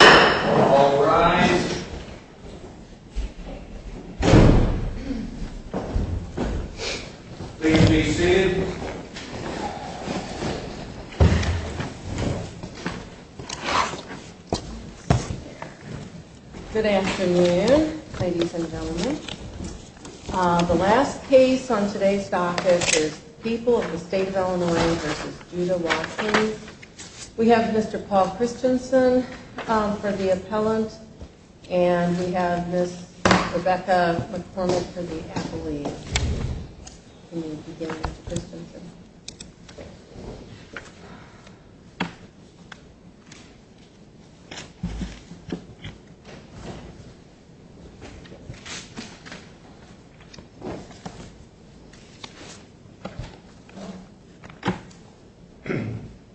All rise. Please be seated. Good afternoon, ladies and gentlemen. The last case on today's docket is People of the State of Illinois v. Judah Watkins. We have Mr. Paul Christensen for the appellant, and we have Ms. Rebecca McCormick for the appellee.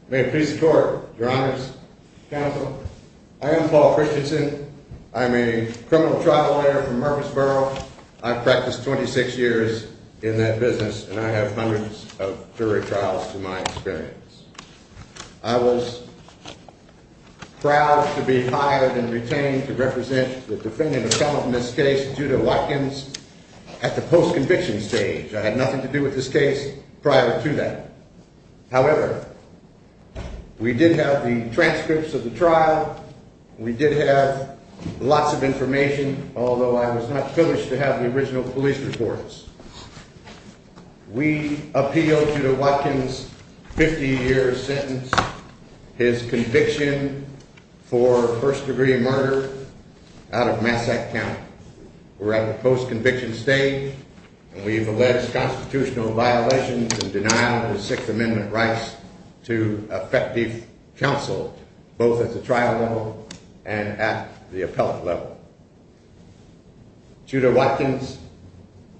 May it please the court, your honors, counsel, I am Paul Christensen. I'm a criminal trial lawyer from Murfreesboro. I've practiced 26 years in that business, and I have hundreds of jury trials to my experience. I was proud to be hired and retained to represent the defendant appellant in this case, Judah Watkins, at the post-conviction stage. I had nothing to do with this case prior to that. However, we did have the transcripts of the trial. We did have lots of information, although I was not privileged to have the original police reports. We appealed Judah Watkins' 50-year sentence, his conviction for first-degree murder out of Massack County. We're at the post-conviction stage, and we've alleged constitutional violations and denial of the Sixth Amendment rights to effective counsel, both at the trial level and at the appellate level. Judah Watkins,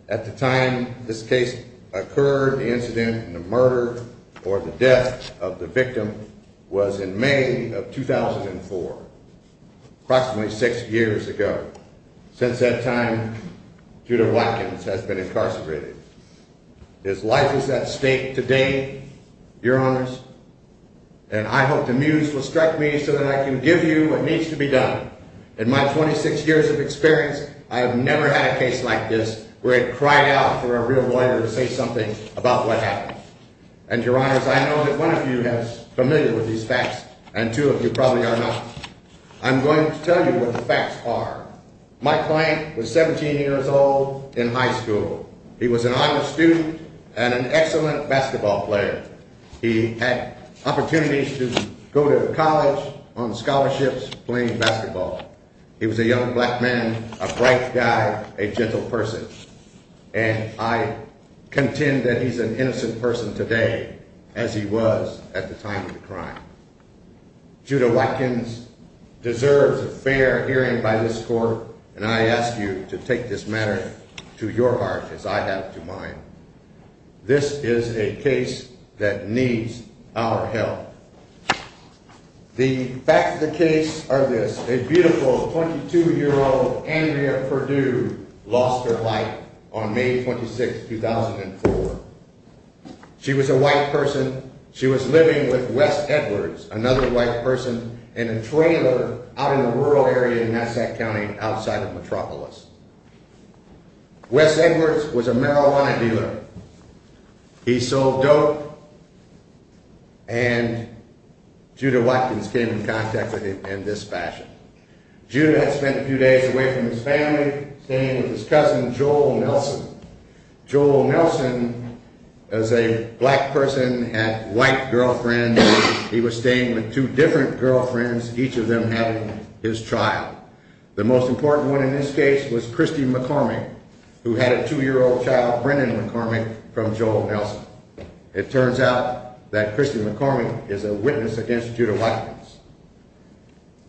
at the time this case occurred, the incident and the murder or the death of the victim was in May of 2004, approximately six years ago. Since that time, Judah Watkins has been incarcerated. His life is at stake today, your honors, and I hope the muse will strike me so that I can give you what needs to be done. In my 26 years of experience, I have never had a case like this where I cried out for a real lawyer to say something about what happened. And your honors, I know that one of you is familiar with these facts, and two of you probably are not. I'm going to tell you what the facts are. My client was 17 years old in high school. He was an honor student and an excellent basketball player. He had opportunities to go to college on scholarships playing basketball. He was a young black man, a bright guy, a gentle person, and I contend that he's an innocent person today as he was at the time of the crime. Judah Watkins deserves a fair hearing by this court, and I ask you to take this matter to your heart as I have to mine. This is a case that needs our help. The facts of the case are this. A beautiful 22-year-old Andrea Perdue lost her life on May 26, 2004. She was a white person. She was living with Wes Edwards, another white person, in a trailer out in a rural area in Nassau County outside of Metropolis. Wes Edwards was a marijuana dealer. He sold dope, and Judah Watkins came in contact with him in this fashion. Judah had spent a few days away from his family, staying with his cousin, Joel Nelson. Joel Nelson, as a black person, had white girlfriends. He was staying with two different girlfriends, each of them having his child. The most important one in this case was Christy McCormick, who had a two-year-old child, Brennan McCormick, from Joel Nelson. It turns out that Christy McCormick is a witness against Judah Watkins,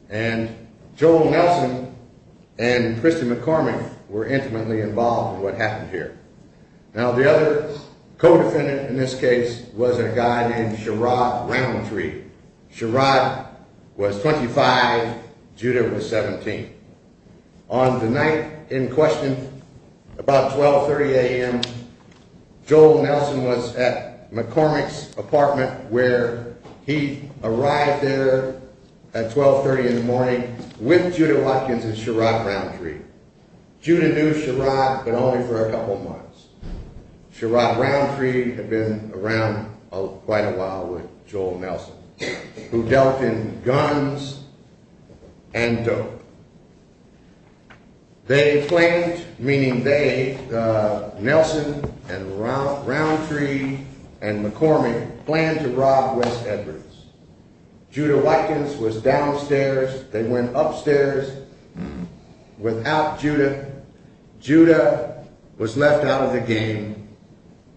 and Joel Nelson and Christy McCormick were intimately involved in what happened here. Now, the other co-defendant in this case was a guy named Sherrod Roundtree. Sherrod was 25, Judah was 17. On the night in question, about 12.30 a.m., Joel Nelson was at McCormick's apartment, where he arrived there at 12.30 in the morning with Judah Watkins and Sherrod Roundtree. Judah knew Sherrod, but only for a couple months. Sherrod Roundtree had been around quite a while with Joel Nelson, who dealt in guns and dope. They planned, meaning they, Nelson and Roundtree and McCormick, planned to rob West Edwards. Judah Watkins was downstairs, they went upstairs. Without Judah, Judah was left out of the game,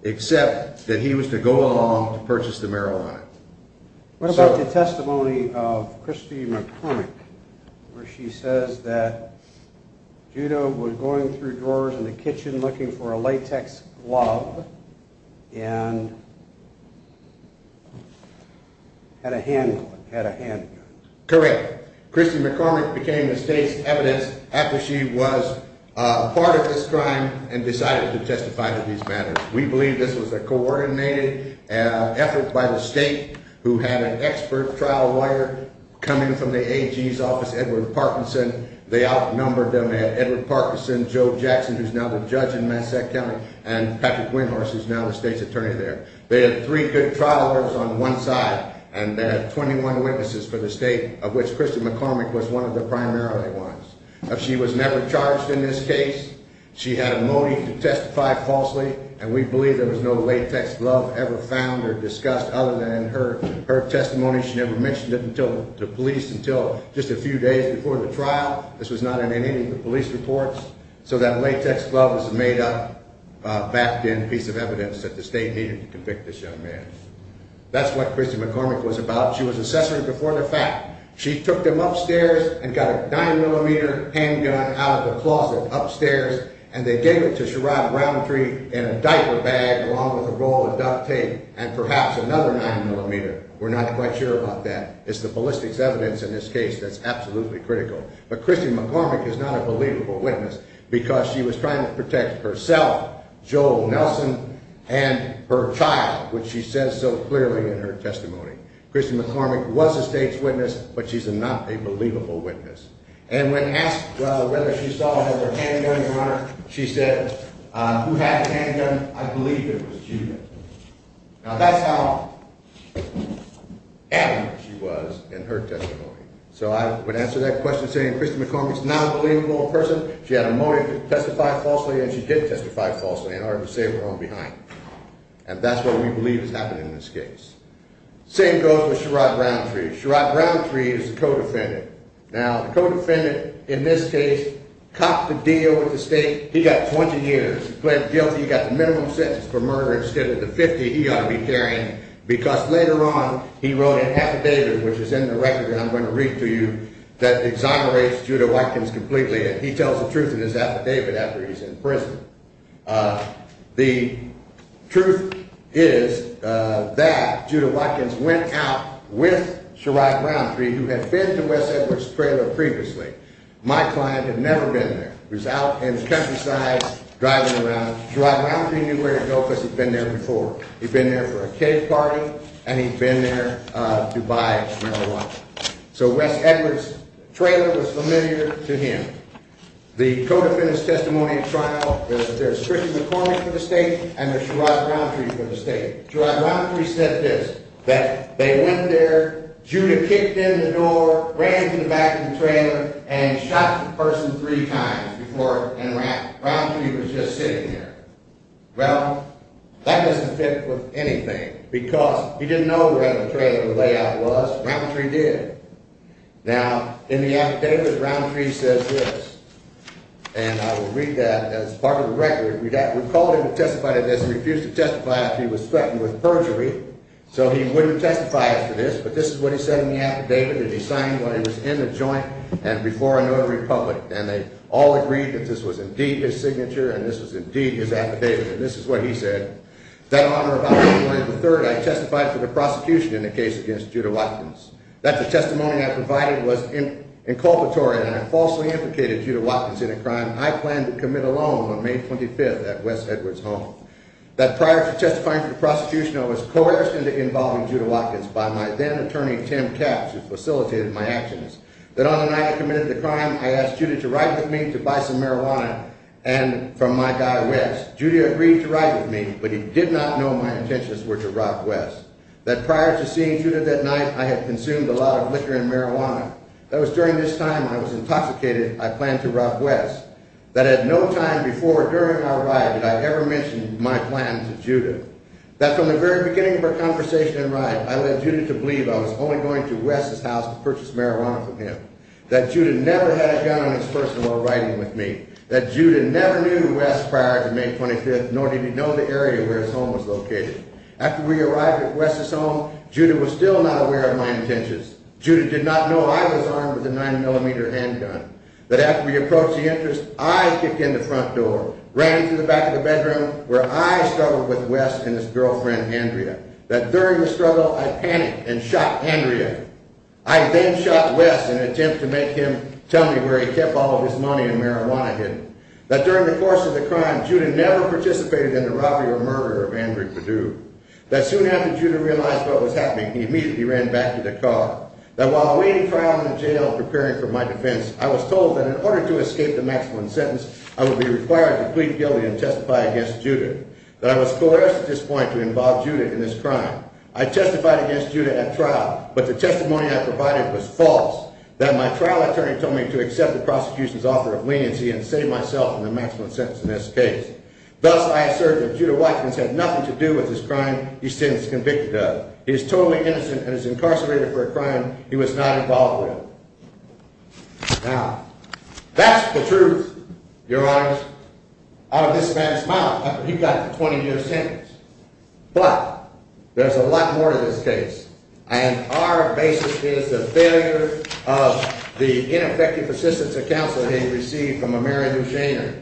except that he was to go along to purchase the marijuana. What about the testimony of Christy McCormick, where she says that Judah was going through drawers in the kitchen looking for a latex glove and had a handgun? Correct. Christy McCormick became the state's evidence after she was part of this crime and decided to testify to these matters. We believe this was a coordinated effort by the state, who had an expert trial lawyer coming from the AG's office, Edward Parkinson. They outnumbered them. They had Edward Parkinson, Joe Jackson, who's now the judge in Massachusetts County, and Patrick Winhorse, who's now the state's attorney there. They had three good trial lawyers on one side, and they had 21 witnesses for the state, of which Christy McCormick was one of the primary ones. She was never charged in this case. She had a motive to testify falsely, and we believe there was no latex glove ever found or discussed other than her testimony. She never mentioned it to police until just a few days before the trial. This was not in any of the police reports. So that latex glove was a made-up, backed-in piece of evidence that the state needed to convict this young man. That's what Christy McCormick was about. She was accessory before the fact. She took them upstairs and got a 9mm handgun out of the closet upstairs, and they gave it to Sherrod Roundtree in a diaper bag along with a roll of duct tape and perhaps another 9mm. We're not quite sure about that. It's the ballistics evidence in this case that's absolutely critical. But Christy McCormick is not a believable witness because she was trying to protect herself, Joel Nelson, and her child, which she says so clearly in her testimony. Christy McCormick was a state's witness, but she's not a believable witness. And when asked whether she saw another handgun, Your Honor, she said, who had the handgun, I believe it was Judith. Now that's how adamant she was in her testimony. So I would answer that question saying Christy McCormick's not a believable person. She had a motive to testify falsely, and she did testify falsely in order to save her own behind. And that's what we believe has happened in this case. Same goes for Sherrod Roundtree. Sherrod Roundtree is the co-defendant. Now the co-defendant in this case copped a deal with the state. He got 20 years. He pled guilty. He got the minimum sentence for murder instead of the 50 he ought to be carrying because later on he wrote an affidavit, which is in the record that I'm going to read to you, that exonerates Judah Watkins completely. And he tells the truth in his affidavit after he's in prison. The truth is that Judah Watkins went out with Sherrod Roundtree, who had been to Wes Edwards' trailer previously. My client had never been there. He was out in the countryside driving around. Sherrod Roundtree knew where to go because he'd been there before. He'd been there for a cave party, and he'd been there to buy marijuana. So Wes Edwards' trailer was familiar to him. The co-defendant's testimony at trial, there's Chrissy McCormick for the state and there's Sherrod Roundtree for the state. Sherrod Roundtree said this, that they went there, Judah kicked in the door, ran to the back of the trailer, and shot the person three times before Roundtree was just sitting there. Well, that doesn't fit with anything because he didn't know where in the trailer the layout was. Roundtree did. Now, in the affidavit, Roundtree says this, and I will read that as part of the record. We called him to testify to this. He refused to testify after he was threatened with perjury. So he wouldn't testify after this. But this is what he said in the affidavit that he signed when he was in the joint and before a notary public. And they all agreed that this was indeed his signature and this was indeed his affidavit. And this is what he said. That on or about the morning of the 3rd, I testified for the prosecution in the case against Judah Watkins. That the testimony I provided was inculpatory and I falsely implicated Judah Watkins in a crime I planned to commit alone on May 25th at Wes Edwards' home. That prior to testifying for the prosecution, I was coerced into involving Judah Watkins by my then-attorney, Tim Kapsch, who facilitated my actions. That on the night I committed the crime, I asked Judah to ride with me to buy some marijuana from my guy Wes. Judah agreed to ride with me, but he did not know my intentions were to rob Wes. That prior to seeing Judah that night, I had consumed a lot of liquor and marijuana. That was during this time I was intoxicated. I planned to rob Wes. That at no time before or during our ride did I ever mention my plan to Judah. That from the very beginning of our conversation and ride, I led Judah to believe I was only going to Wes' house to purchase marijuana from him. That Judah never had a gun on his person while riding with me. That Judah never knew Wes prior to May 25th, nor did he know the area where his home was located. After we arrived at Wes' home, Judah was still not aware of my intentions. Judah did not know I was armed with a 9mm handgun. That after we approached the entrance, I kicked in the front door, ran into the back of the bedroom, where I struggled with Wes and his girlfriend, Andrea. That during the struggle, I panicked and shot Andrea. I then shot Wes in an attempt to make him tell me where he kept all of his money and marijuana hidden. That during the course of the crime, Judah never participated in the robbery or murder of Andrea Perdue. That soon after Judah realized what was happening, he immediately ran back to the car. That while awaiting trial in jail, preparing for my defense, I was told that in order to escape the maximum sentence, I would be required to plead guilty and testify against Judah. That I was coerced at this point to involve Judah in this crime. I testified against Judah at trial, but the testimony I provided was false. That my trial attorney told me to accept the prosecution's offer of leniency and save myself in the maximum sentence in this case. Thus, I assert that Judah Weitzman's had nothing to do with this crime he's since convicted of. He is totally innocent and is incarcerated for a crime he was not involved with. Now, that's the truth, your honor, out of this man's mouth after he got the 20-year sentence. But, there's a lot more to this case. And our basis is the failure of the ineffective assistance of counsel that he received from a Mary Lou Shainer.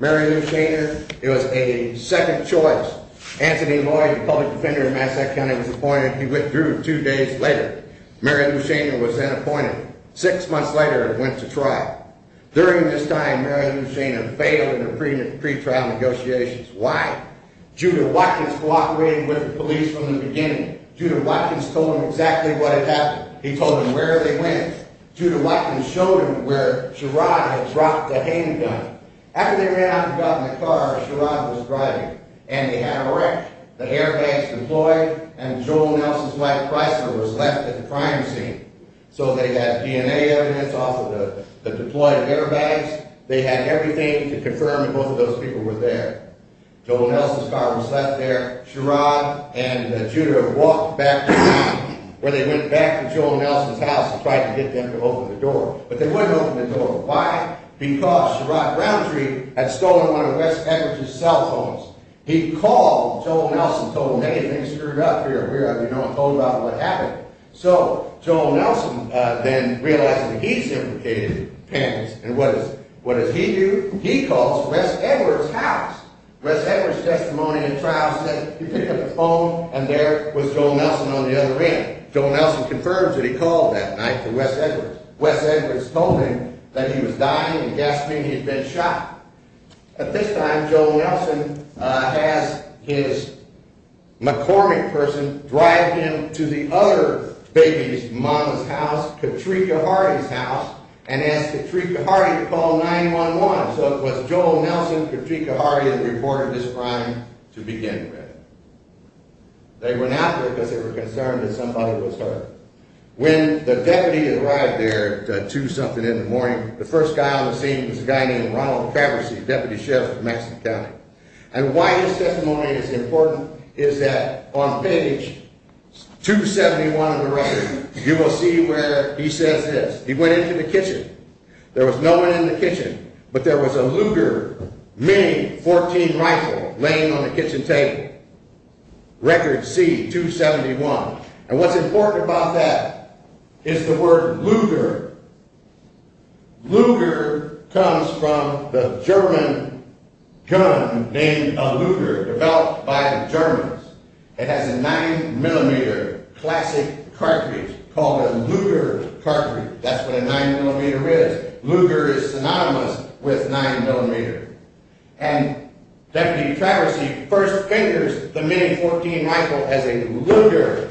Mary Lou Shainer, it was a second choice. Anthony Lloyd, a public defender in Massachusetts County, was appointed. He withdrew two days later. Mary Lou Shainer was then appointed. Six months later, it went to trial. During this time, Mary Lou Shainer failed in her pretrial negotiations. Why? Judah Weitzman cooperated with the police from the beginning. Judah Weitzman told them exactly what had happened. He told them where they went. Judah Weitzman showed them where Sherrod had dropped the handgun. After they ran out and got in the car, Sherrod was driving. And they had a wreck. The airbags deployed. And Joel Nelson's wife, Chrysler, was left at the crime scene. So they had DNA evidence off of the deployed airbags. They had everything to confirm that both of those people were there. Joel Nelson's car was left there. Sherrod and Judah walked back to where they went, back to Joel Nelson's house, and tried to get them to open the door. But they wouldn't open the door. Why? Because Sherrod Browntree had stolen one of Wes Peckridge's cell phones. He called Joel Nelson and told him, hey, things screwed up here. We are, you know, told about what happened. So Joel Nelson then realized that he's implicated, and what does he do? He calls Wes Edwards' house. Wes Edwards' testimony in trial said he picked up the phone, and there was Joel Nelson on the other end. Joel Nelson confirms that he called that night to Wes Edwards. Wes Edwards told him that he was dying and gasping he had been shot. At this time, Joel Nelson has his McCormick person drive him to the other baby's mama's house, Katrika Hardy's house, and asked Katrika Hardy to call 911. So it was Joel Nelson, Katrika Hardy that reported this crime to begin with. They went out there because they were concerned that somebody was hurt. When the deputy arrived there at 2 something in the morning, the first guy on the scene was a guy named Ronald Faberge, deputy sheriff of Maxton County. And why his testimony is important is that on page 271 of the record, you will see where he says this. He went into the kitchen. There was no one in the kitchen, but there was a Luger MIG-14 rifle laying on the kitchen table. Record C-271. And what's important about that is the word Luger. Luger comes from the German gun named a Luger developed by the Germans. It has a 9mm classic cartridge called a Luger cartridge. That's what a 9mm is. Luger is synonymous with 9mm. And Deputy Traversy first figures the MIG-14 rifle as a Luger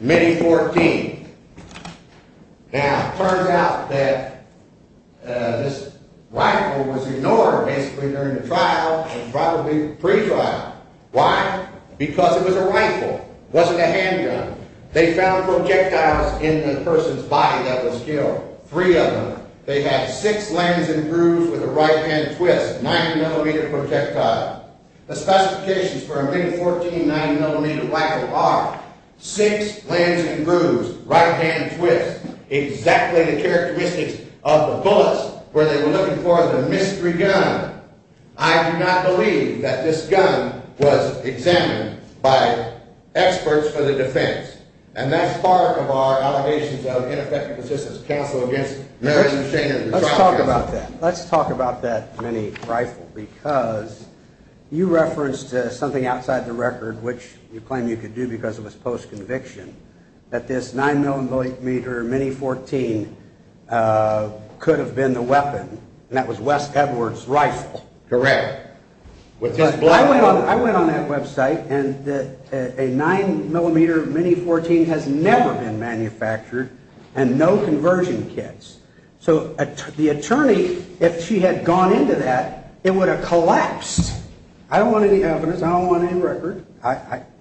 MIG-14. Now, it turns out that this rifle was ignored basically during the trial and probably pre-trial. Why? Because it was a rifle. It wasn't a handgun. They found projectiles in the person's body that was killed. Three of them. They had six lengths and grooves with a right-hand twist, 9mm projectile. The specifications for a MIG-14 9mm rifle are six lengths and grooves, right-hand twist, exactly the characteristics of the bullets where they were looking for the mystery gun. I do not believe that this gun was examined by experts for the defense. And that's part of our allegations of ineffective assistance counsel against Mary Lou Shaner. Let's talk about that. Let's talk about that MIG-14 rifle because you referenced something outside the record, which you claim you could do because it was post-conviction, that this 9mm MIG-14 could have been the weapon, and that was Wes Edwards' rifle. Correct. I went on that website, and a 9mm MIG-14 has never been manufactured and no conversion kits. So the attorney, if she had gone into that, it would have collapsed. I don't want any evidence. I don't want any record.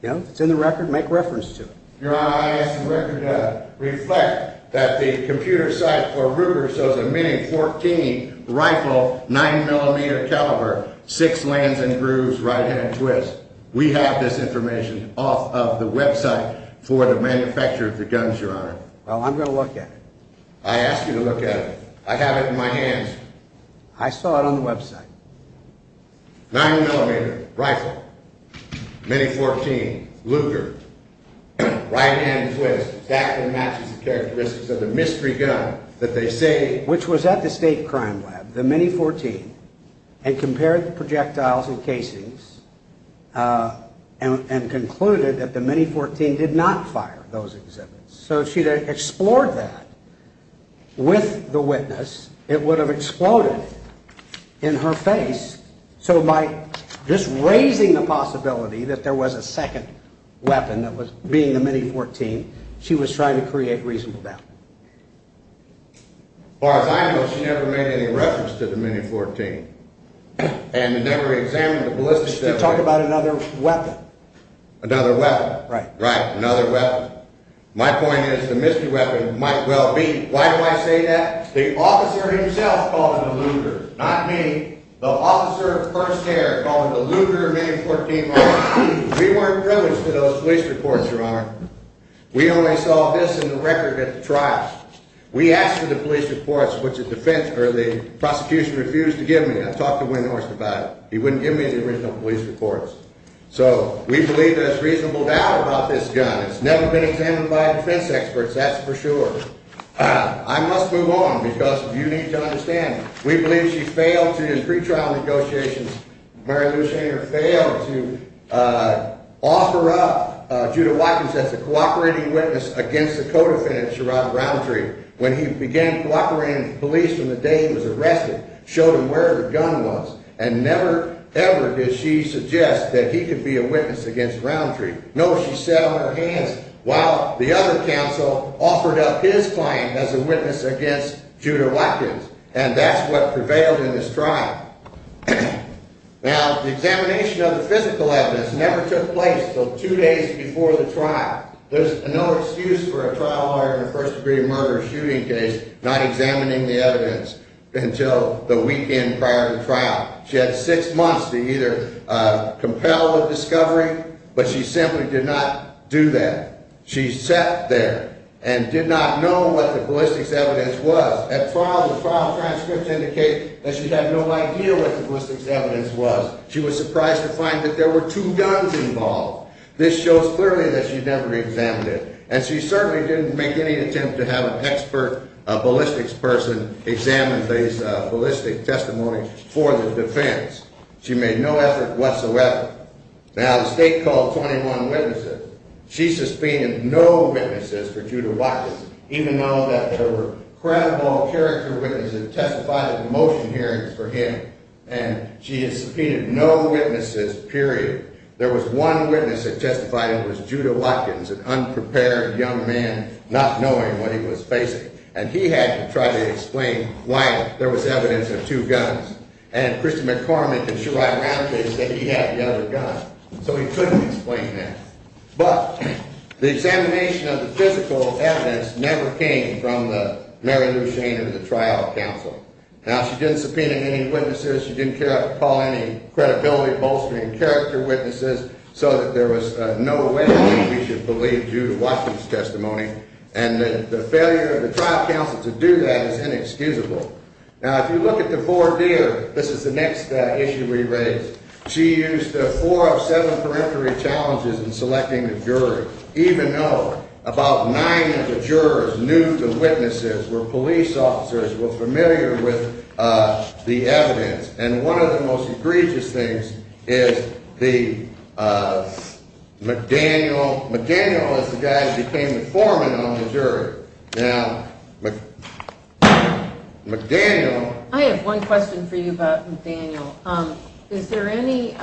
If it's in the record, make reference to it. Your Honor, I ask the record to reflect that the computer site for Ruger shows a MIG-14 rifle, 9mm caliber, six lengths and grooves, right-hand twist. We have this information off of the website for the manufacturer of the guns, Your Honor. Well, I'm going to look at it. I ask you to look at it. I have it in my hands. I saw it on the website. 9mm rifle, MIG-14, Luger, right-hand twist, exactly matches the characteristics of the mystery gun that they say. Which was at the state crime lab, the MIG-14, and compared the projectiles and casings and concluded that the MIG-14 did not fire those exhibits. So if she had explored that with the witness, it would have exploded in her face. So by just raising the possibility that there was a second weapon that was being the MIG-14, she was trying to create reasonable doubt. As far as I know, she never made any reference to the MIG-14 and never examined the ballistics. She talked about another weapon. Another weapon. Right. Right, another weapon. My point is the mystery weapon might well be. Why do I say that? The officer himself called it a Luger, not me. The officer of first care called it a Luger MIG-14. We weren't privileged to those police reports, Your Honor. We only saw this in the record at the trial. We asked for the police reports, which the prosecution refused to give me. I talked to Wynne Horst about it. He wouldn't give me the original police reports. So we believe there's reasonable doubt about this gun. It's never been examined by defense experts. That's for sure. I must move on because you need to understand. We believe she failed to, in pretrial negotiations, Mary Lou Schanger, failed to offer up Judith Watkins as a cooperating witness against the co-defendant, Sherrod Roundtree, when he began cooperating with police from the day he was arrested, showed them where the gun was, and never, ever did she suggest that he could be a witness against Roundtree. No, she sat on her hands while the other counsel offered up his claim as a witness against Judith Watkins. And that's what prevailed in this trial. Now, the examination of the physical evidence never took place until two days before the trial. There's no excuse for a trial lawyer in a first-degree murder shooting case not examining the evidence until the weekend prior to the trial. She had six months to either compel the discovery, but she simply did not do that. She sat there and did not know what the ballistics evidence was. At trial, the trial transcripts indicate that she had no idea what the ballistics evidence was. She was surprised to find that there were two guns involved. This shows clearly that she never examined it. And she certainly didn't make any attempt to have an expert ballistics person examine these ballistic testimonies for the defense. She made no effort whatsoever. Now, the state called 21 witnesses. She subpoenaed no witnesses for Judith Watkins, even though there were credible character witnesses that testified at the motion hearings for him. And she had subpoenaed no witnesses, period. There was one witness that testified, and it was Judith Watkins, an unprepared young man not knowing what he was facing. And he had to try to explain why there was evidence of two guns. And Christy McCormick and Sherrod Ramsey said he had the other gun. So he couldn't explain that. But the examination of the physical evidence never came from Mary Lou Shaner, the trial counsel. Now, she didn't subpoena any witnesses. She didn't call any credibility-bolstering character witnesses so that there was no way that we should believe Judith Watkins' testimony. And the failure of the trial counsel to do that is inexcusable. Now, if you look at the four deer, this is the next issue we raise. She used four of seven peremptory challenges in selecting the jury, even though about nine of the jurors knew the witnesses were police officers, were familiar with the evidence. And one of the most egregious things is the McDaniel. McDaniel is the guy who became the foreman on the jury. Now, McDaniel. I have one question for you about McDaniel. Is there any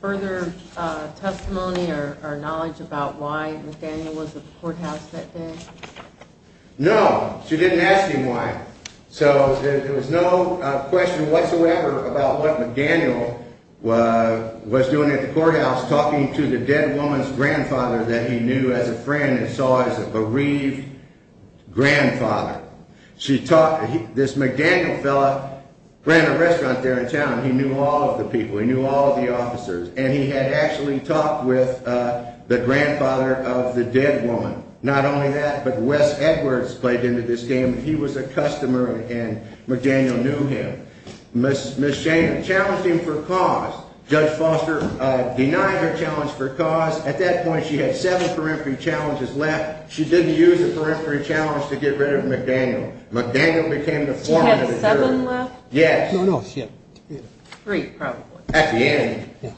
further testimony or knowledge about why McDaniel was at the courthouse that day? No. She didn't ask him why. So there was no question whatsoever about what McDaniel was doing at the courthouse, talking to the dead woman's grandfather that he knew as a friend and saw as a bereaved grandfather. This McDaniel fella ran a restaurant there in town. He knew all of the people. He knew all of the officers. And he had actually talked with the grandfather of the dead woman. Not only that, but Wes Edwards played into this game. He was a customer, and McDaniel knew him. Ms. Shannon challenged him for cause. Judge Foster denied her challenge for cause. At that point, she had seven peremptory challenges left. She didn't use the peremptory challenge to get rid of McDaniel. McDaniel became the foreman of the jury. She had seven left? Yes. No, no. Three, probably. At the end.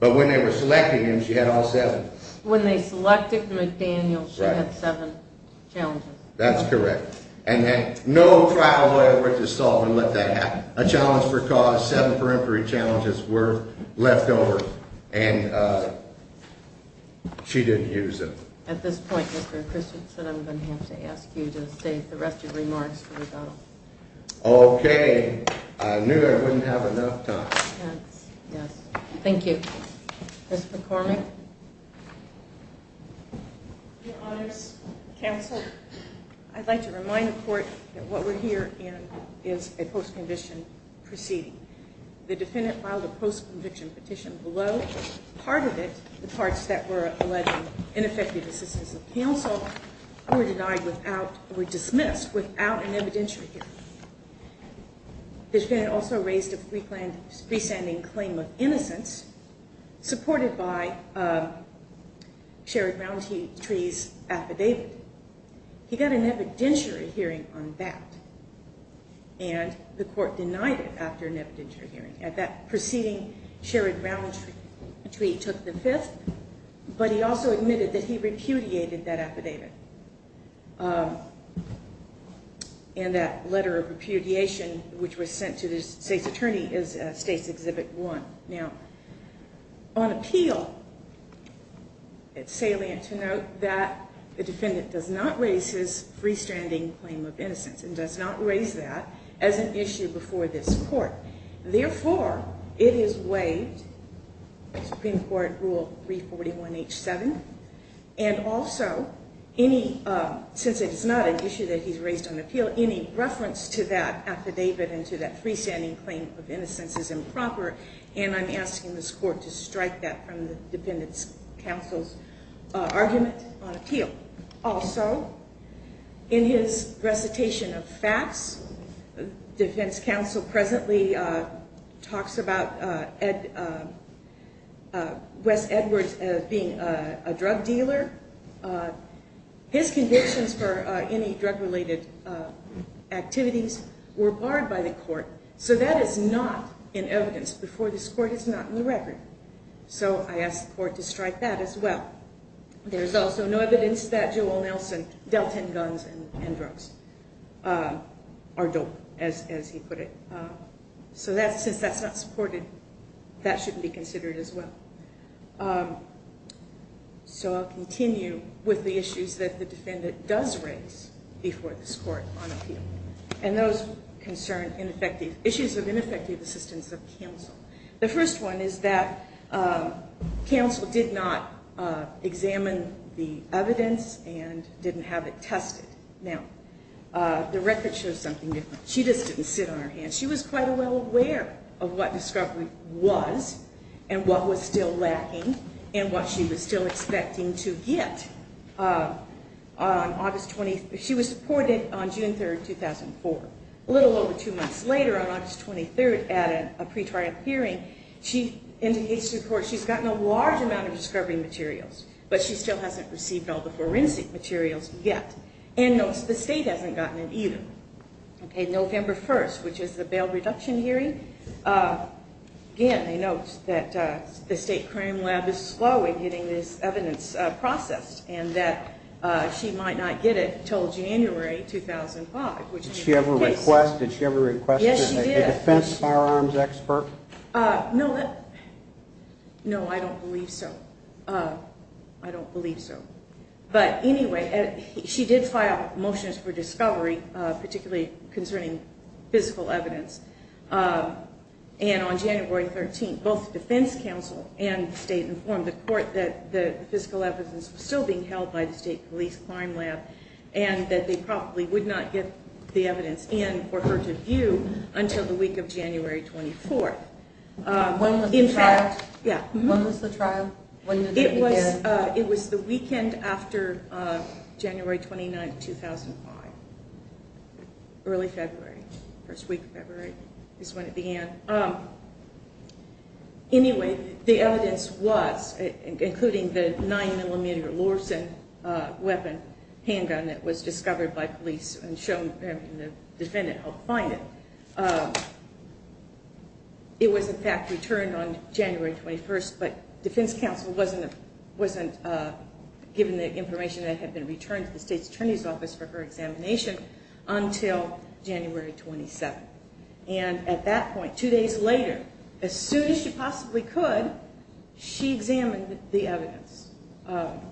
But when they were selecting him, she had all seven. When they selected McDaniel, she had seven challenges. That's correct. And no trial lawyer went to solve and let that happen. A challenge for cause. Seven peremptory challenges were left over. And she didn't use them. At this point, Mr. Christensen, I'm going to have to ask you to state the rest of your remarks for rebuttal. Okay. I knew I wouldn't have enough time. Yes. Thank you. Ms. McCormick. Your Honors Counsel, I'd like to remind the Court that what we're here in is a post-conviction proceeding. The defendant filed a post-conviction petition below. Part of it, the parts that were alleged ineffective assistance of counsel, were denied without or dismissed without an evidentiary hearing. The defendant also raised a free-standing claim of innocence supported by Sherrod Browntree's affidavit. He got an evidentiary hearing on that. And the Court denied it after an evidentiary hearing. At that proceeding, Sherrod Browntree took the fifth. But he also admitted that he repudiated that affidavit. And that letter of repudiation, which was sent to the State's Attorney, is State's Exhibit 1. Now, on appeal, it's salient to note that the defendant does not raise his free-standing claim of innocence, does not raise that, as an issue before this Court. Therefore, it is waived, Supreme Court Rule 341H7. And also, since it is not an issue that he's raised on appeal, any reference to that affidavit and to that free-standing claim of innocence is improper. And I'm asking this Court to strike that from the defendant's counsel's argument on appeal. Also, in his recitation of facts, defense counsel presently talks about Wes Edwards being a drug dealer. His convictions for any drug-related activities were barred by the Court. So that is not in evidence before this Court. It's not in the record. So I ask the Court to strike that as well. There's also no evidence that Jewel Nelson dealt in guns and drugs, or dope, as he put it. So since that's not supported, that shouldn't be considered as well. So I'll continue with the issues that the defendant does raise before this Court on appeal. And those concern issues of ineffective assistance of counsel. The first one is that counsel did not examine the evidence and didn't have it tested. Now, the record shows something different. She just didn't sit on her hands. She was quite well aware of what discovery was and what was still lacking and what she was still expecting to get on August 23rd. She was supported on June 3rd, 2004. A little over two months later, on August 23rd, at a pre-trial hearing, she indicates to the Court she's gotten a large amount of discovery materials, but she still hasn't received all the forensic materials yet. And notes the State hasn't gotten it either. November 1st, which is the bail reduction hearing, again, notes that the State Crime Lab is slow in getting this evidence processed and that she might not get it until January 2005. Did she ever request it? Yes, she did. A defense firearms expert? No, I don't believe so. I don't believe so. But anyway, she did file motions for discovery, particularly concerning physical evidence. And on January 13th, both the Defense Counsel and the State informed the Court that the physical evidence was still being held by the State Police Crime Lab and that they probably would not get the evidence in for her to view until the week of January 24th. When was the trial? It was the weekend after January 29th, 2005. Early February. First week of February is when it began. Anyway, the evidence was, including the 9mm Lorsen weapon handgun that was discovered by police and the defendant helped find it, it was in fact returned on January 21st, but Defense Counsel wasn't given the information that had been returned to the State's Attorney's Office for her examination until January 27th. And at that point, two days later, as soon as she possibly could, she examined the evidence.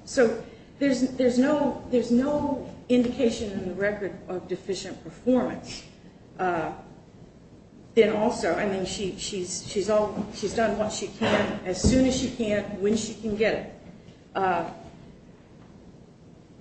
So there's no indication in the record of deficient performance. And also, I mean, she's done what she can as soon as she can, when she can get it.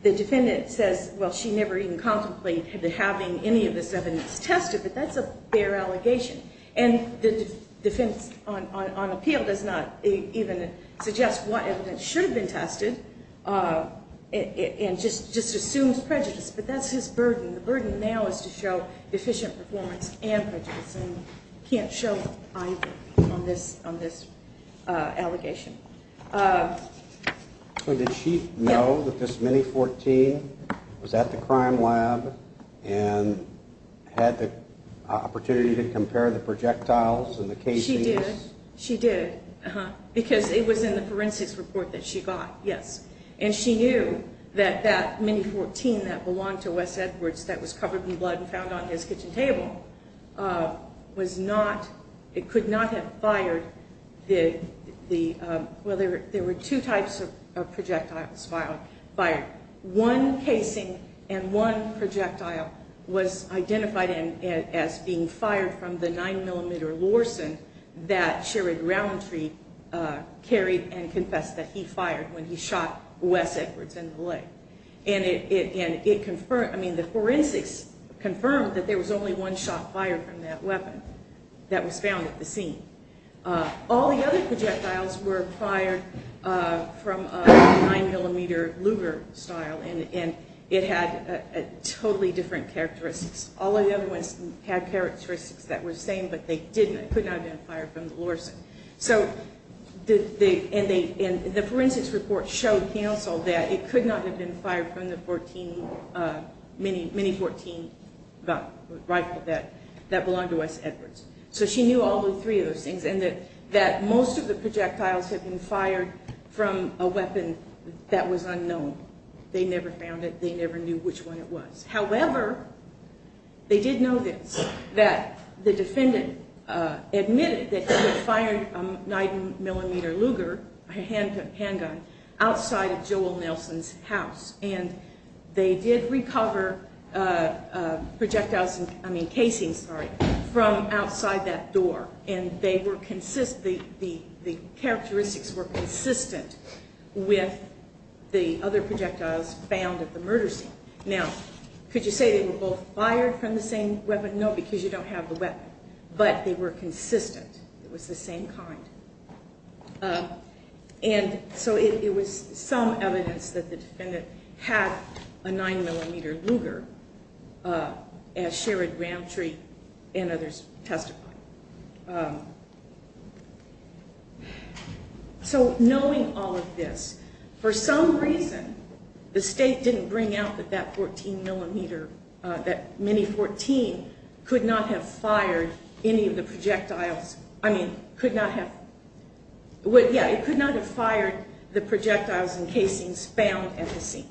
The defendant says, well, she never even contemplated having any of this evidence tested, but that's a fair allegation. And the defense on appeal does not even suggest what evidence should have been tested and just assumes prejudice. But that's his burden. The burden now is to show deficient performance and prejudice and can't show either on this allegation. So did she know that this Mini-14 was at the crime lab and had the opportunity to compare the projectiles and the casing? She did. She did. Because it was in the forensics report that she got, yes. And she knew that that Mini-14 that belonged to Wes Edwards that was covered in blood and found on his kitchen table was not, it could not have fired the, well, there were two types of projectiles fired. One casing and one projectile was identified as being fired from the 9mm Lorsen that Sherrod Roundtree carried and confessed that he fired when he shot Wes Edwards in the leg. And it confirmed, I mean, the forensics confirmed that there was only one shot fired from that weapon that was found at the scene. All the other projectiles were fired from a 9mm Luger style and it had totally different characteristics. All the other ones had characteristics that were the same, but they could not have been fired from the Lorsen. And the forensics report showed counsel that it could not have been fired from the Mini-14 rifle that belonged to Wes Edwards. So she knew all three of those things and that most of the projectiles had been fired from a weapon that was unknown. They never found it. They never knew which one it was. However, they did know this, that the defendant admitted that he had fired a 9mm Luger, a handgun, outside of Joel Nelson's house. And they did recover projectiles, I mean casings, sorry, from outside that door. And they were consistent, the characteristics were consistent with the other projectiles found at the murder scene. Now, could you say they were both fired from the same weapon? No, because you don't have the weapon. But they were consistent. It was the same kind. And so it was some evidence that the defendant had a 9mm Luger, as Sherrod Ramtree and others testified. So knowing all of this, for some reason, the state didn't bring out that that 14mm, that Mini-14, could not have fired any of the projectiles, I mean, could not have, yeah, it could not have fired the projectiles and casings found at the scene.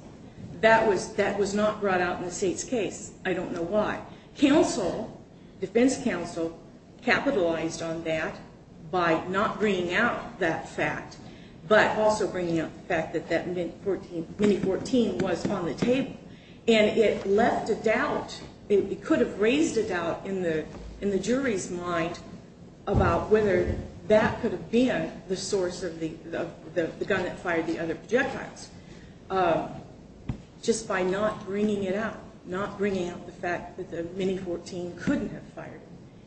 That was not brought out in the state's case. I don't know why. Counsel, defense counsel, capitalized on that by not bringing out that fact, but also bringing out the fact that that Mini-14 was on the table. And it left a doubt, it could have raised a doubt in the jury's mind about whether that could have been the source of the gun that fired the other projectiles. Just by not bringing it out, not bringing out the fact that the Mini-14 couldn't have fired,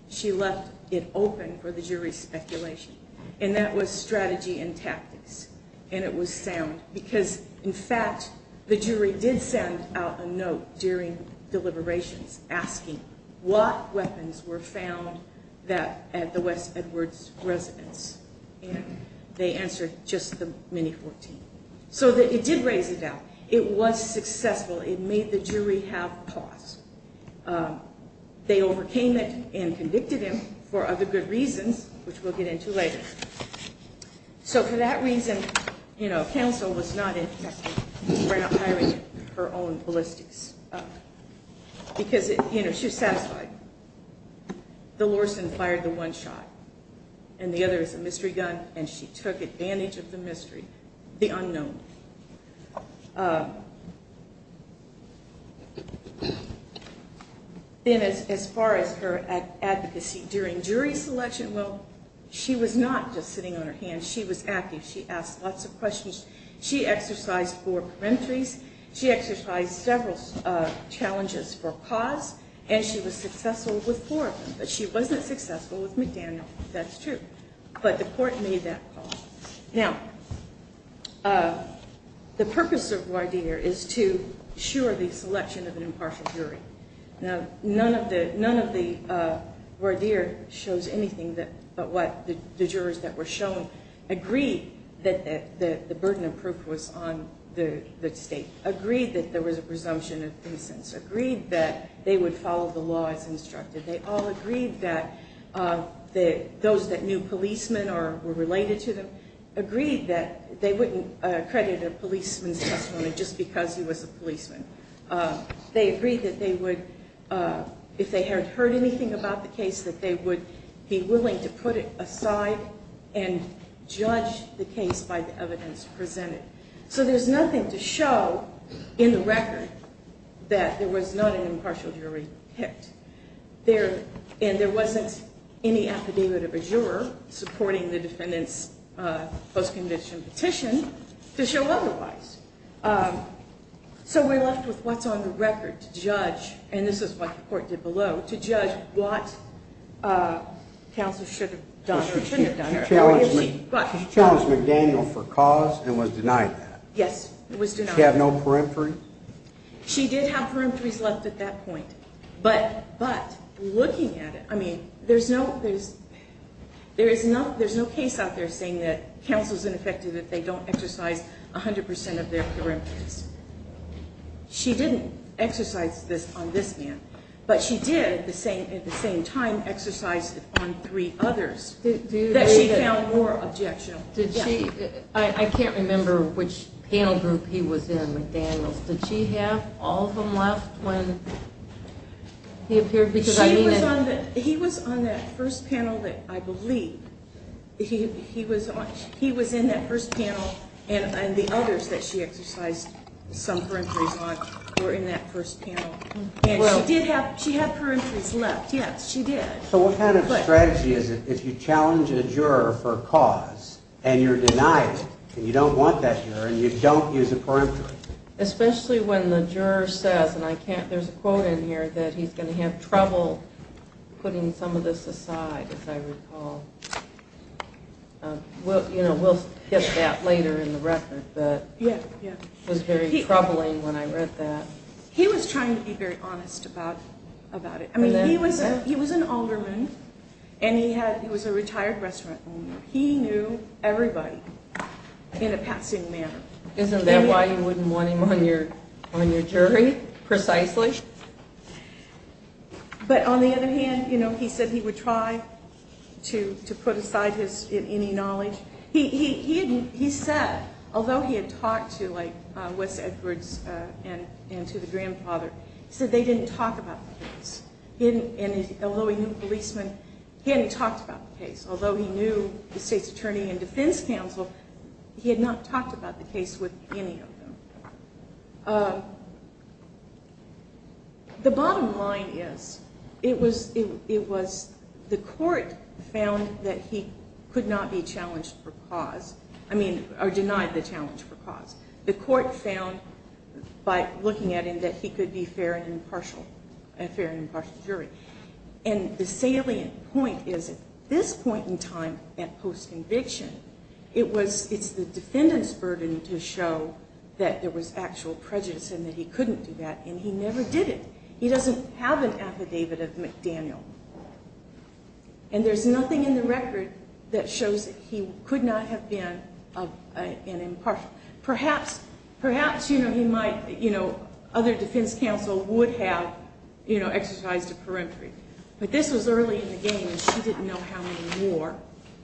she left it open for the jury's speculation. And that was strategy and tactics, and it was sound. Because, in fact, the jury did send out a note during deliberations asking what weapons were found at the West Edwards residence, and they answered just the Mini-14. So it did raise a doubt. It was successful. It made the jury have pause. They overcame it and convicted him for other good reasons, which we'll get into later. So for that reason, you know, hiring her own ballistics. Because, you know, she was satisfied. The Lorsen fired the one shot, and the other is a mystery gun, and she took advantage of the mystery, the unknown. Then as far as her advocacy during jury selection, well, she was not just sitting on her hands. She was active. She asked lots of questions. She exercised four peremptories. She exercised several challenges for pause, and she was successful with four of them. But she wasn't successful with McDaniel. That's true. But the court made that pause. Now, the purpose of voir dire is to assure the selection of an impartial jury. Now, none of the voir dire shows anything but what the jurors that were shown agreed that the burden of proof was on the state, agreed that there was a presumption of incense, agreed that they would follow the law as instructed. They all agreed that those that knew policemen or were related to them agreed that they wouldn't credit a policeman's testimony just because he was a policeman. They agreed that they would, if they had heard anything about the case, that they would be willing to put it aside and judge the case by the evidence presented. So there's nothing to show in the record that there was not an impartial jury picked. And there wasn't any affidavit of a juror supporting the defendant's post-conviction petition to show otherwise. So we're left with what's on the record to judge, and this is what the court did below, to judge what counsel should have done or shouldn't have done. She challenged McDaniel for cause and was denied that. Yes, it was denied. She had no peremptory? She did have peremptories left at that point. But looking at it, I mean, there's no case out there saying that counsel's ineffective if they don't exercise 100% of their peremptories. She didn't exercise this on this man, but she did at the same time exercise it on three others that she found more objectionable. I can't remember which panel group he was in, McDaniel's. Did she have all of them left when he appeared? He was on that first panel that I believe. He was in that first panel, and the others that she exercised some peremptories on were in that first panel. And she did have peremptories left. Yes, she did. So what kind of strategy is it if you challenge a juror for a cause and you're denied it and you don't want that juror and you don't use a peremptory? Especially when the juror says, and there's a quote in here, that he's going to have trouble putting some of this aside, as I recall. We'll get that later in the record, but it was very troubling when I read that. He was trying to be very honest about it. I mean, he was an alderman and he was a retired restaurant owner. He knew everybody in a passing manner. Isn't that why you wouldn't want him on your jury, precisely? But on the other hand, you know, he said he would try to put aside any knowledge. He said, although he had talked to, like, Wes Edwards and to the grandfather, he said they didn't talk about the case. Although he knew the policeman, he hadn't talked about the case. Although he knew the state's attorney and defense counsel, he had not talked about the case with any of them. The bottom line is it was the court found that he could not be challenged for cause. I mean, or denied the challenge for cause. The court found, by looking at him, that he could be fair and impartial, a fair and impartial jury. And the salient point is at this point in time, at post-conviction, it's the defendant's burden to show that there was actual prejudice and that he couldn't do that, and he never did it. He doesn't have an affidavit of McDaniel. And there's nothing in the record that shows that he could not have been impartial. Perhaps, you know, he might, you know, other defense counsel would have, you know, exercised a peremptory. But this was early in the game, and she didn't know how many more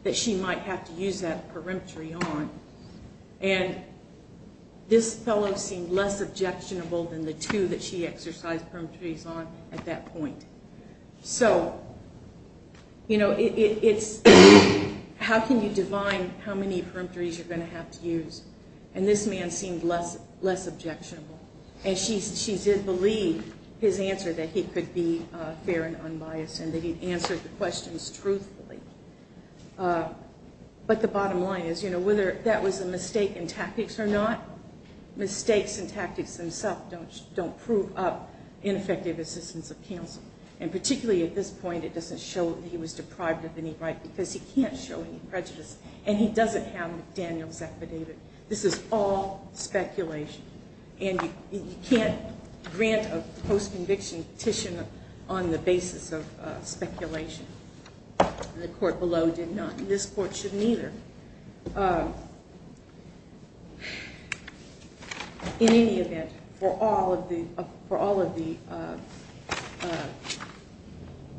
that she might have to use that peremptory on. And this fellow seemed less objectionable than the two that she exercised peremptories on at that point. So, you know, it's how can you define how many peremptories you're going to have to use? And this man seemed less objectionable. And she did believe his answer, that he could be fair and unbiased, and that he answered the questions truthfully. But the bottom line is, you know, whether that was a mistake in tactics or not, mistakes in tactics themselves don't prove up ineffective assistance of counsel. And particularly at this point, it doesn't show that he was deprived of any right because he can't show any prejudice, and he doesn't have McDaniel's affidavit. This is all speculation. And you can't grant a post-conviction petition on the basis of speculation. The court below did not, and this court shouldn't either. In any event, for all of the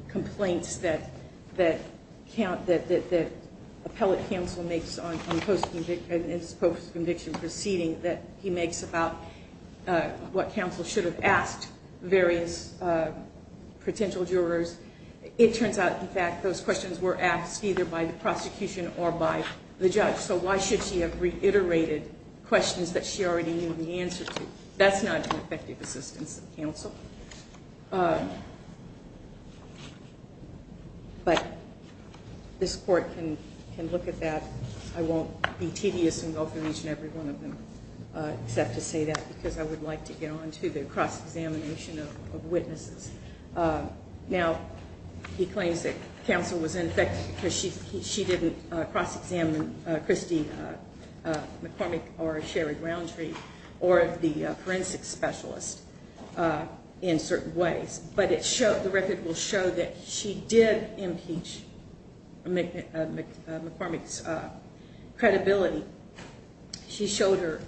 complaints that appellate counsel makes on his post-conviction proceeding that he makes about what counsel should have asked various potential jurors, it turns out, in fact, those questions were asked either by the prosecution or by the judge. So why should she have reiterated questions that she already knew the answer to? That's not an effective assistance of counsel. But this court can look at that. I won't be tedious and go through each and every one of them except to say that because I would like to get on to the cross-examination of witnesses. Now, he claims that counsel was ineffective because she didn't cross-examine Christie McCormick or Sherry Roundtree or the forensic specialist in certain ways. But the record will show that she did impeach McCormick's credibility. She showed her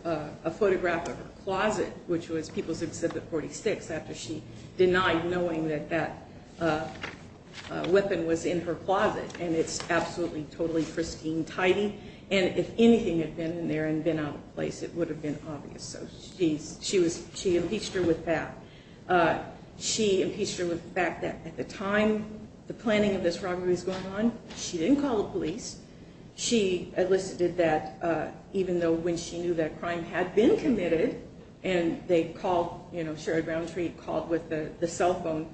a photograph of her closet, which was People's Exhibit 46, after she denied knowing that that weapon was in her closet. And it's absolutely, totally pristine, tidy. And if anything had been in there and been out of place, it would have been obvious. So she impeached her with that. She impeached her with the fact that at the time the planning of this robbery was going on, she didn't call the police. She elicited that even though when she knew that crime had been committed and they called, you know, Sherry Roundtree called with the cell phone,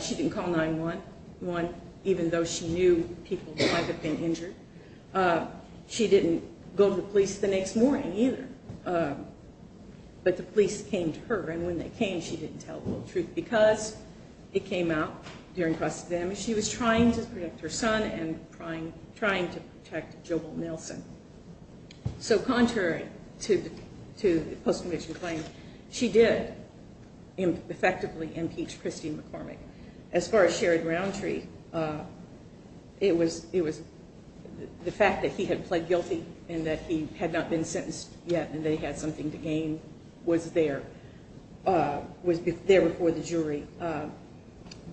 she didn't call 911 even though she knew people might have been injured. She didn't go to the police the next morning either. But the police came to her. And when they came, she didn't tell the whole truth because it came out during cross-examination. She was trying to protect her son and trying to protect Jobel Nelson. So contrary to the post-conviction claim, she did effectively impeach Christine McCormick. As far as Sherry Roundtree, it was the fact that he had pled guilty and that he had not been sentenced yet and they had something to gain was there, was there before the jury.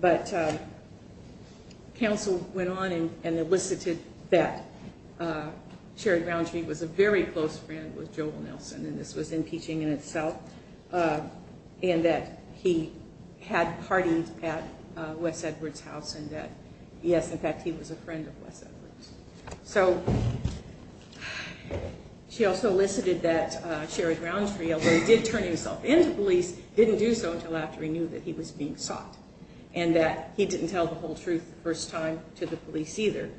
But counsel went on and elicited that Sherry Roundtree was a very close friend with Jobel Nelson and this was impeaching in itself and that he had partied at Wes Edwards' house and that, yes, in fact, he was a friend of Wes Edwards'. So she also elicited that Sherry Roundtree, although he did turn himself in to police, didn't do so until after he knew that he was being sought and that he didn't tell the whole truth the first time to the police either.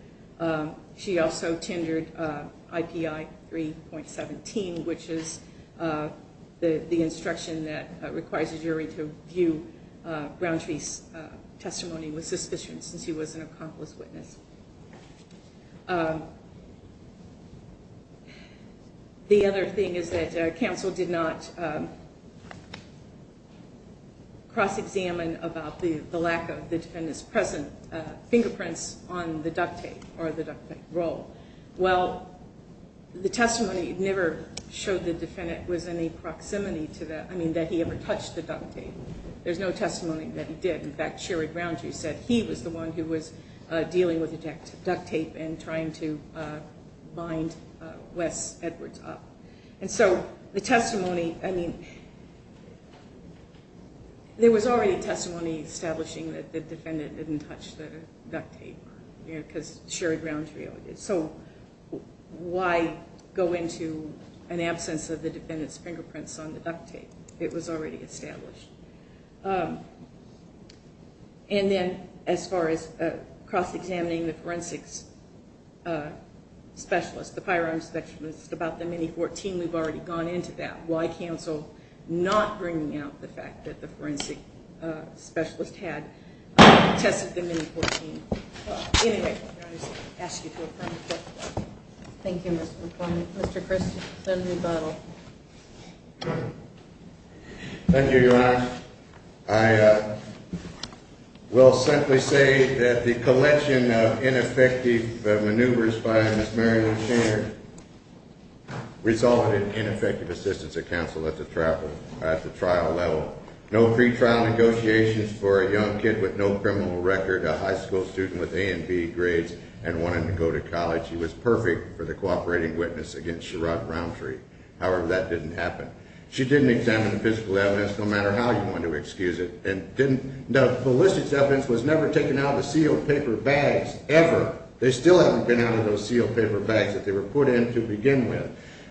She also tendered IPI 3.17, which is the instruction that requires a jury to view Roundtree's testimony with suspicion since he was an accomplice witness. The other thing is that counsel did not cross-examine about the lack of the defendant's present fingerprints on the duct tape or the duct tape roll. Well, the testimony never showed the defendant was in any proximity to that, I mean, that he ever touched the duct tape. There's no testimony that he did. In fact, Sherry Roundtree said he was the one who was dealing with the duct tape and trying to bind Wes Edwards up. And so the testimony, I mean, there was already testimony establishing that the defendant didn't touch the duct tape because Sherry Roundtree always did. So why go into an absence of the defendant's fingerprints on the duct tape? It was already established. And then as far as cross-examining the forensics specialist, the firearms specialist, about the Mini-14, we've already gone into that. Why counsel not bringing out the fact that the forensic specialist had tested the Mini-14? Anyway, I'm going to ask you to affirm the testimony. Thank you, Mr. McCormick. Mr. Chris, the rebuttal. Thank you, Your Honor. I will simply say that the collection of ineffective maneuvers by Ms. Mary Lou Shaner resulted in ineffective assistance of counsel at the trial level. No pretrial negotiations for a young kid with no criminal record, a high school student with A and B grades, and wanting to go to college. She was perfect for the cooperating witness against Sherrod Roundtree. However, that didn't happen. She didn't examine the physical evidence, no matter how you want to excuse it, and the ballistics evidence was never taken out of the sealed paper bags, ever. They still haven't been out of those sealed paper bags that they were put in to begin with.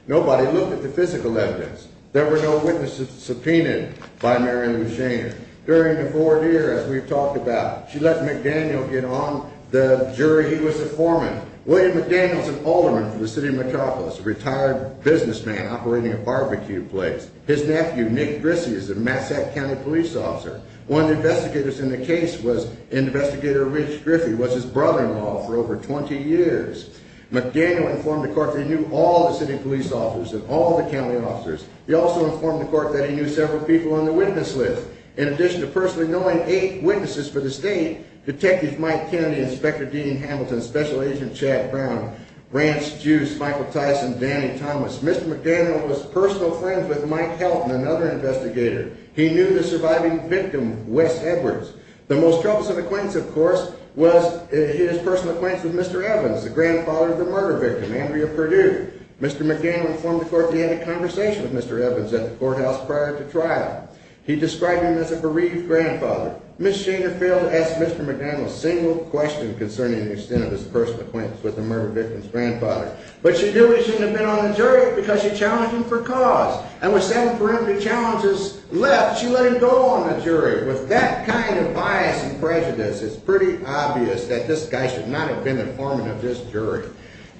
Nobody looked at the physical evidence. There were no witnesses subpoenaed by Mary Lou Shaner. During the fourth year, as we've talked about, she let McDaniel get on the jury. He was a foreman. William McDaniel is an alderman for the city of Metropolis, a retired businessman operating a barbecue place. His nephew, Nick Grissy, is a Massac County police officer. One of the investigators in the case was Investigator Rich Griffey, who was his brother-in-law for over 20 years. McDaniel informed the court that he knew all the city police officers and all the county officers. He also informed the court that he knew several people on the witness list. In addition to personally knowing eight witnesses for the state, Detectives Mike Kennedy, Inspector Dean Hamilton, Special Agent Chad Brown, Rance Juice, Michael Tyson, Danny Thomas, Mr. McDaniel was personal friends with Mike Helton, another investigator. He knew the surviving victim, Wes Edwards. The most troublesome acquaintance, of course, was his personal acquaintance with Mr. Evans, the grandfather of the murder victim, Andrea Perdue. Mr. McDaniel informed the court that he had a conversation with Mr. Evans at the courthouse prior to trial. He described him as a bereaved grandfather. Ms. Shaner failed to ask Mr. McDaniel a single question concerning the extent of his personal acquaintance with the murder victim's grandfather. But she knew he shouldn't have been on the jury because she challenged him for cause. And with seven preliminary challenges left, she let him go on the jury. With that kind of bias and prejudice, it's pretty obvious that this guy should not have been the foreman of this jury.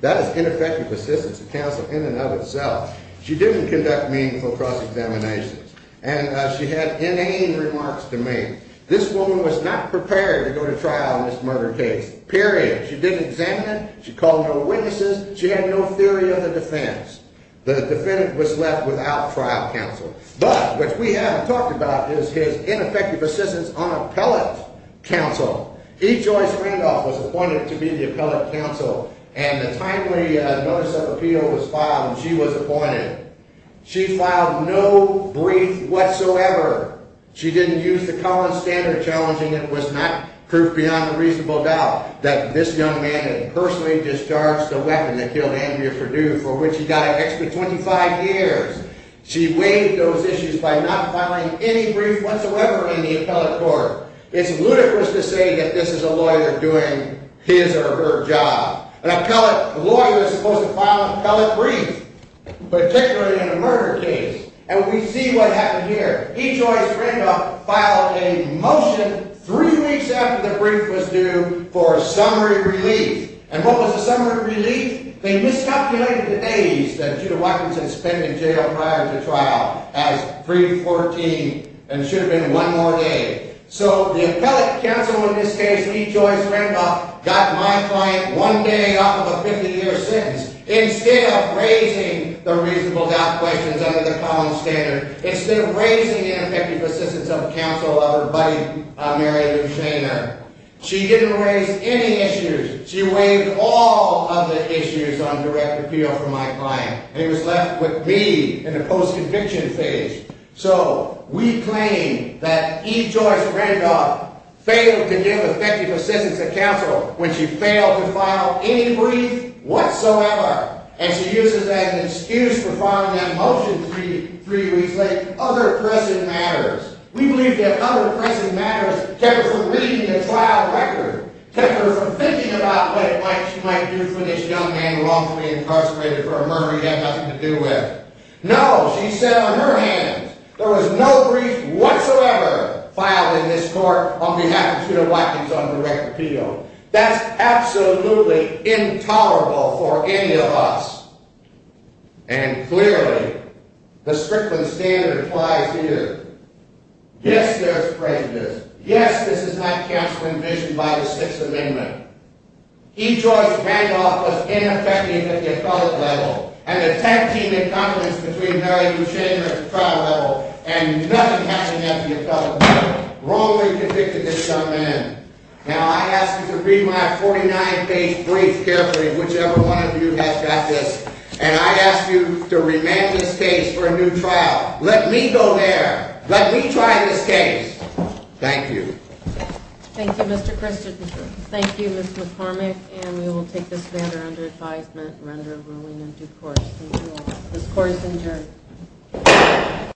That is ineffective assistance to counsel in and of itself. She didn't conduct meaningful cross-examinations. And she had inane remarks to make. This woman was not prepared to go to trial in this murder case. Period. She didn't examine it. She called no witnesses. She had no theory of the defense. The defendant was left without trial counsel. But what we haven't talked about is his ineffective assistance on appellate counsel. E. Joyce Randolph was appointed to be the appellate counsel. And a timely notice of appeal was filed, and she was appointed. She filed no brief whatsoever. She didn't use the Collins standard, challenging it was not proof beyond a reasonable doubt that this young man had personally discharged the weapon that killed Andrea Perdue, for which he died an extra 25 years. She waived those issues by not filing any brief whatsoever in the appellate court. It's ludicrous to say that this is a lawyer doing his or her job. An appellate lawyer is supposed to file an appellate brief, particularly in a murder case. And we see what happened here. E. Joyce Randolph filed a motion three weeks after the brief was due for summary relief. And what was the summary relief? They miscalculated the days that Judah Watkinson spent in jail prior to trial as 3-14, and it should have been one more day. So the appellate counsel in this case, E. Joyce Randolph, got my client one day off of a 50-year sentence. Instead of raising the reasonable doubt questions under the Collins standard, instead of raising the effective assistance of counsel of her buddy, Mary Lou Shaner, she didn't raise any issues. She waived all of the issues on direct appeal for my client. And it was left with me in the post-conviction phase. So we claim that E. Joyce Randolph failed to give effective assistance to counsel when she failed to file any brief whatsoever. And she uses that as an excuse for filing that motion three weeks late. Other pressing matters. We believe that other pressing matters kept her from reading the trial record, kept her from thinking about what she might do when this young man wrongfully incarcerated for a murder he had nothing to do with. No, she said on her hands, there was no brief whatsoever filed in this court on behalf of Judah Watkinson on direct appeal. That's absolutely intolerable for any of us. And clearly, the Strickland standard applies here. Yes, there's prejudice. Yes, this is not counsel envisioned by the Sixth Amendment. E. Joyce Randolph was ineffective at the appellate level, and the 10-team encumbrance between Mary Lou Shaner at the trial level and nothing happening at the appellate level wrongly convicted this young man. Now, I ask you to read my 49-page brief carefully, whichever one of you has got this, and I ask you to remand this case for a new trial. Let me go there. Let me try this case. Thank you. Thank you, Mr. Christensen. Thank you, Ms. McCormick. And we will take this matter under advisement or under ruling in due course. Thank you all. This court is adjourned.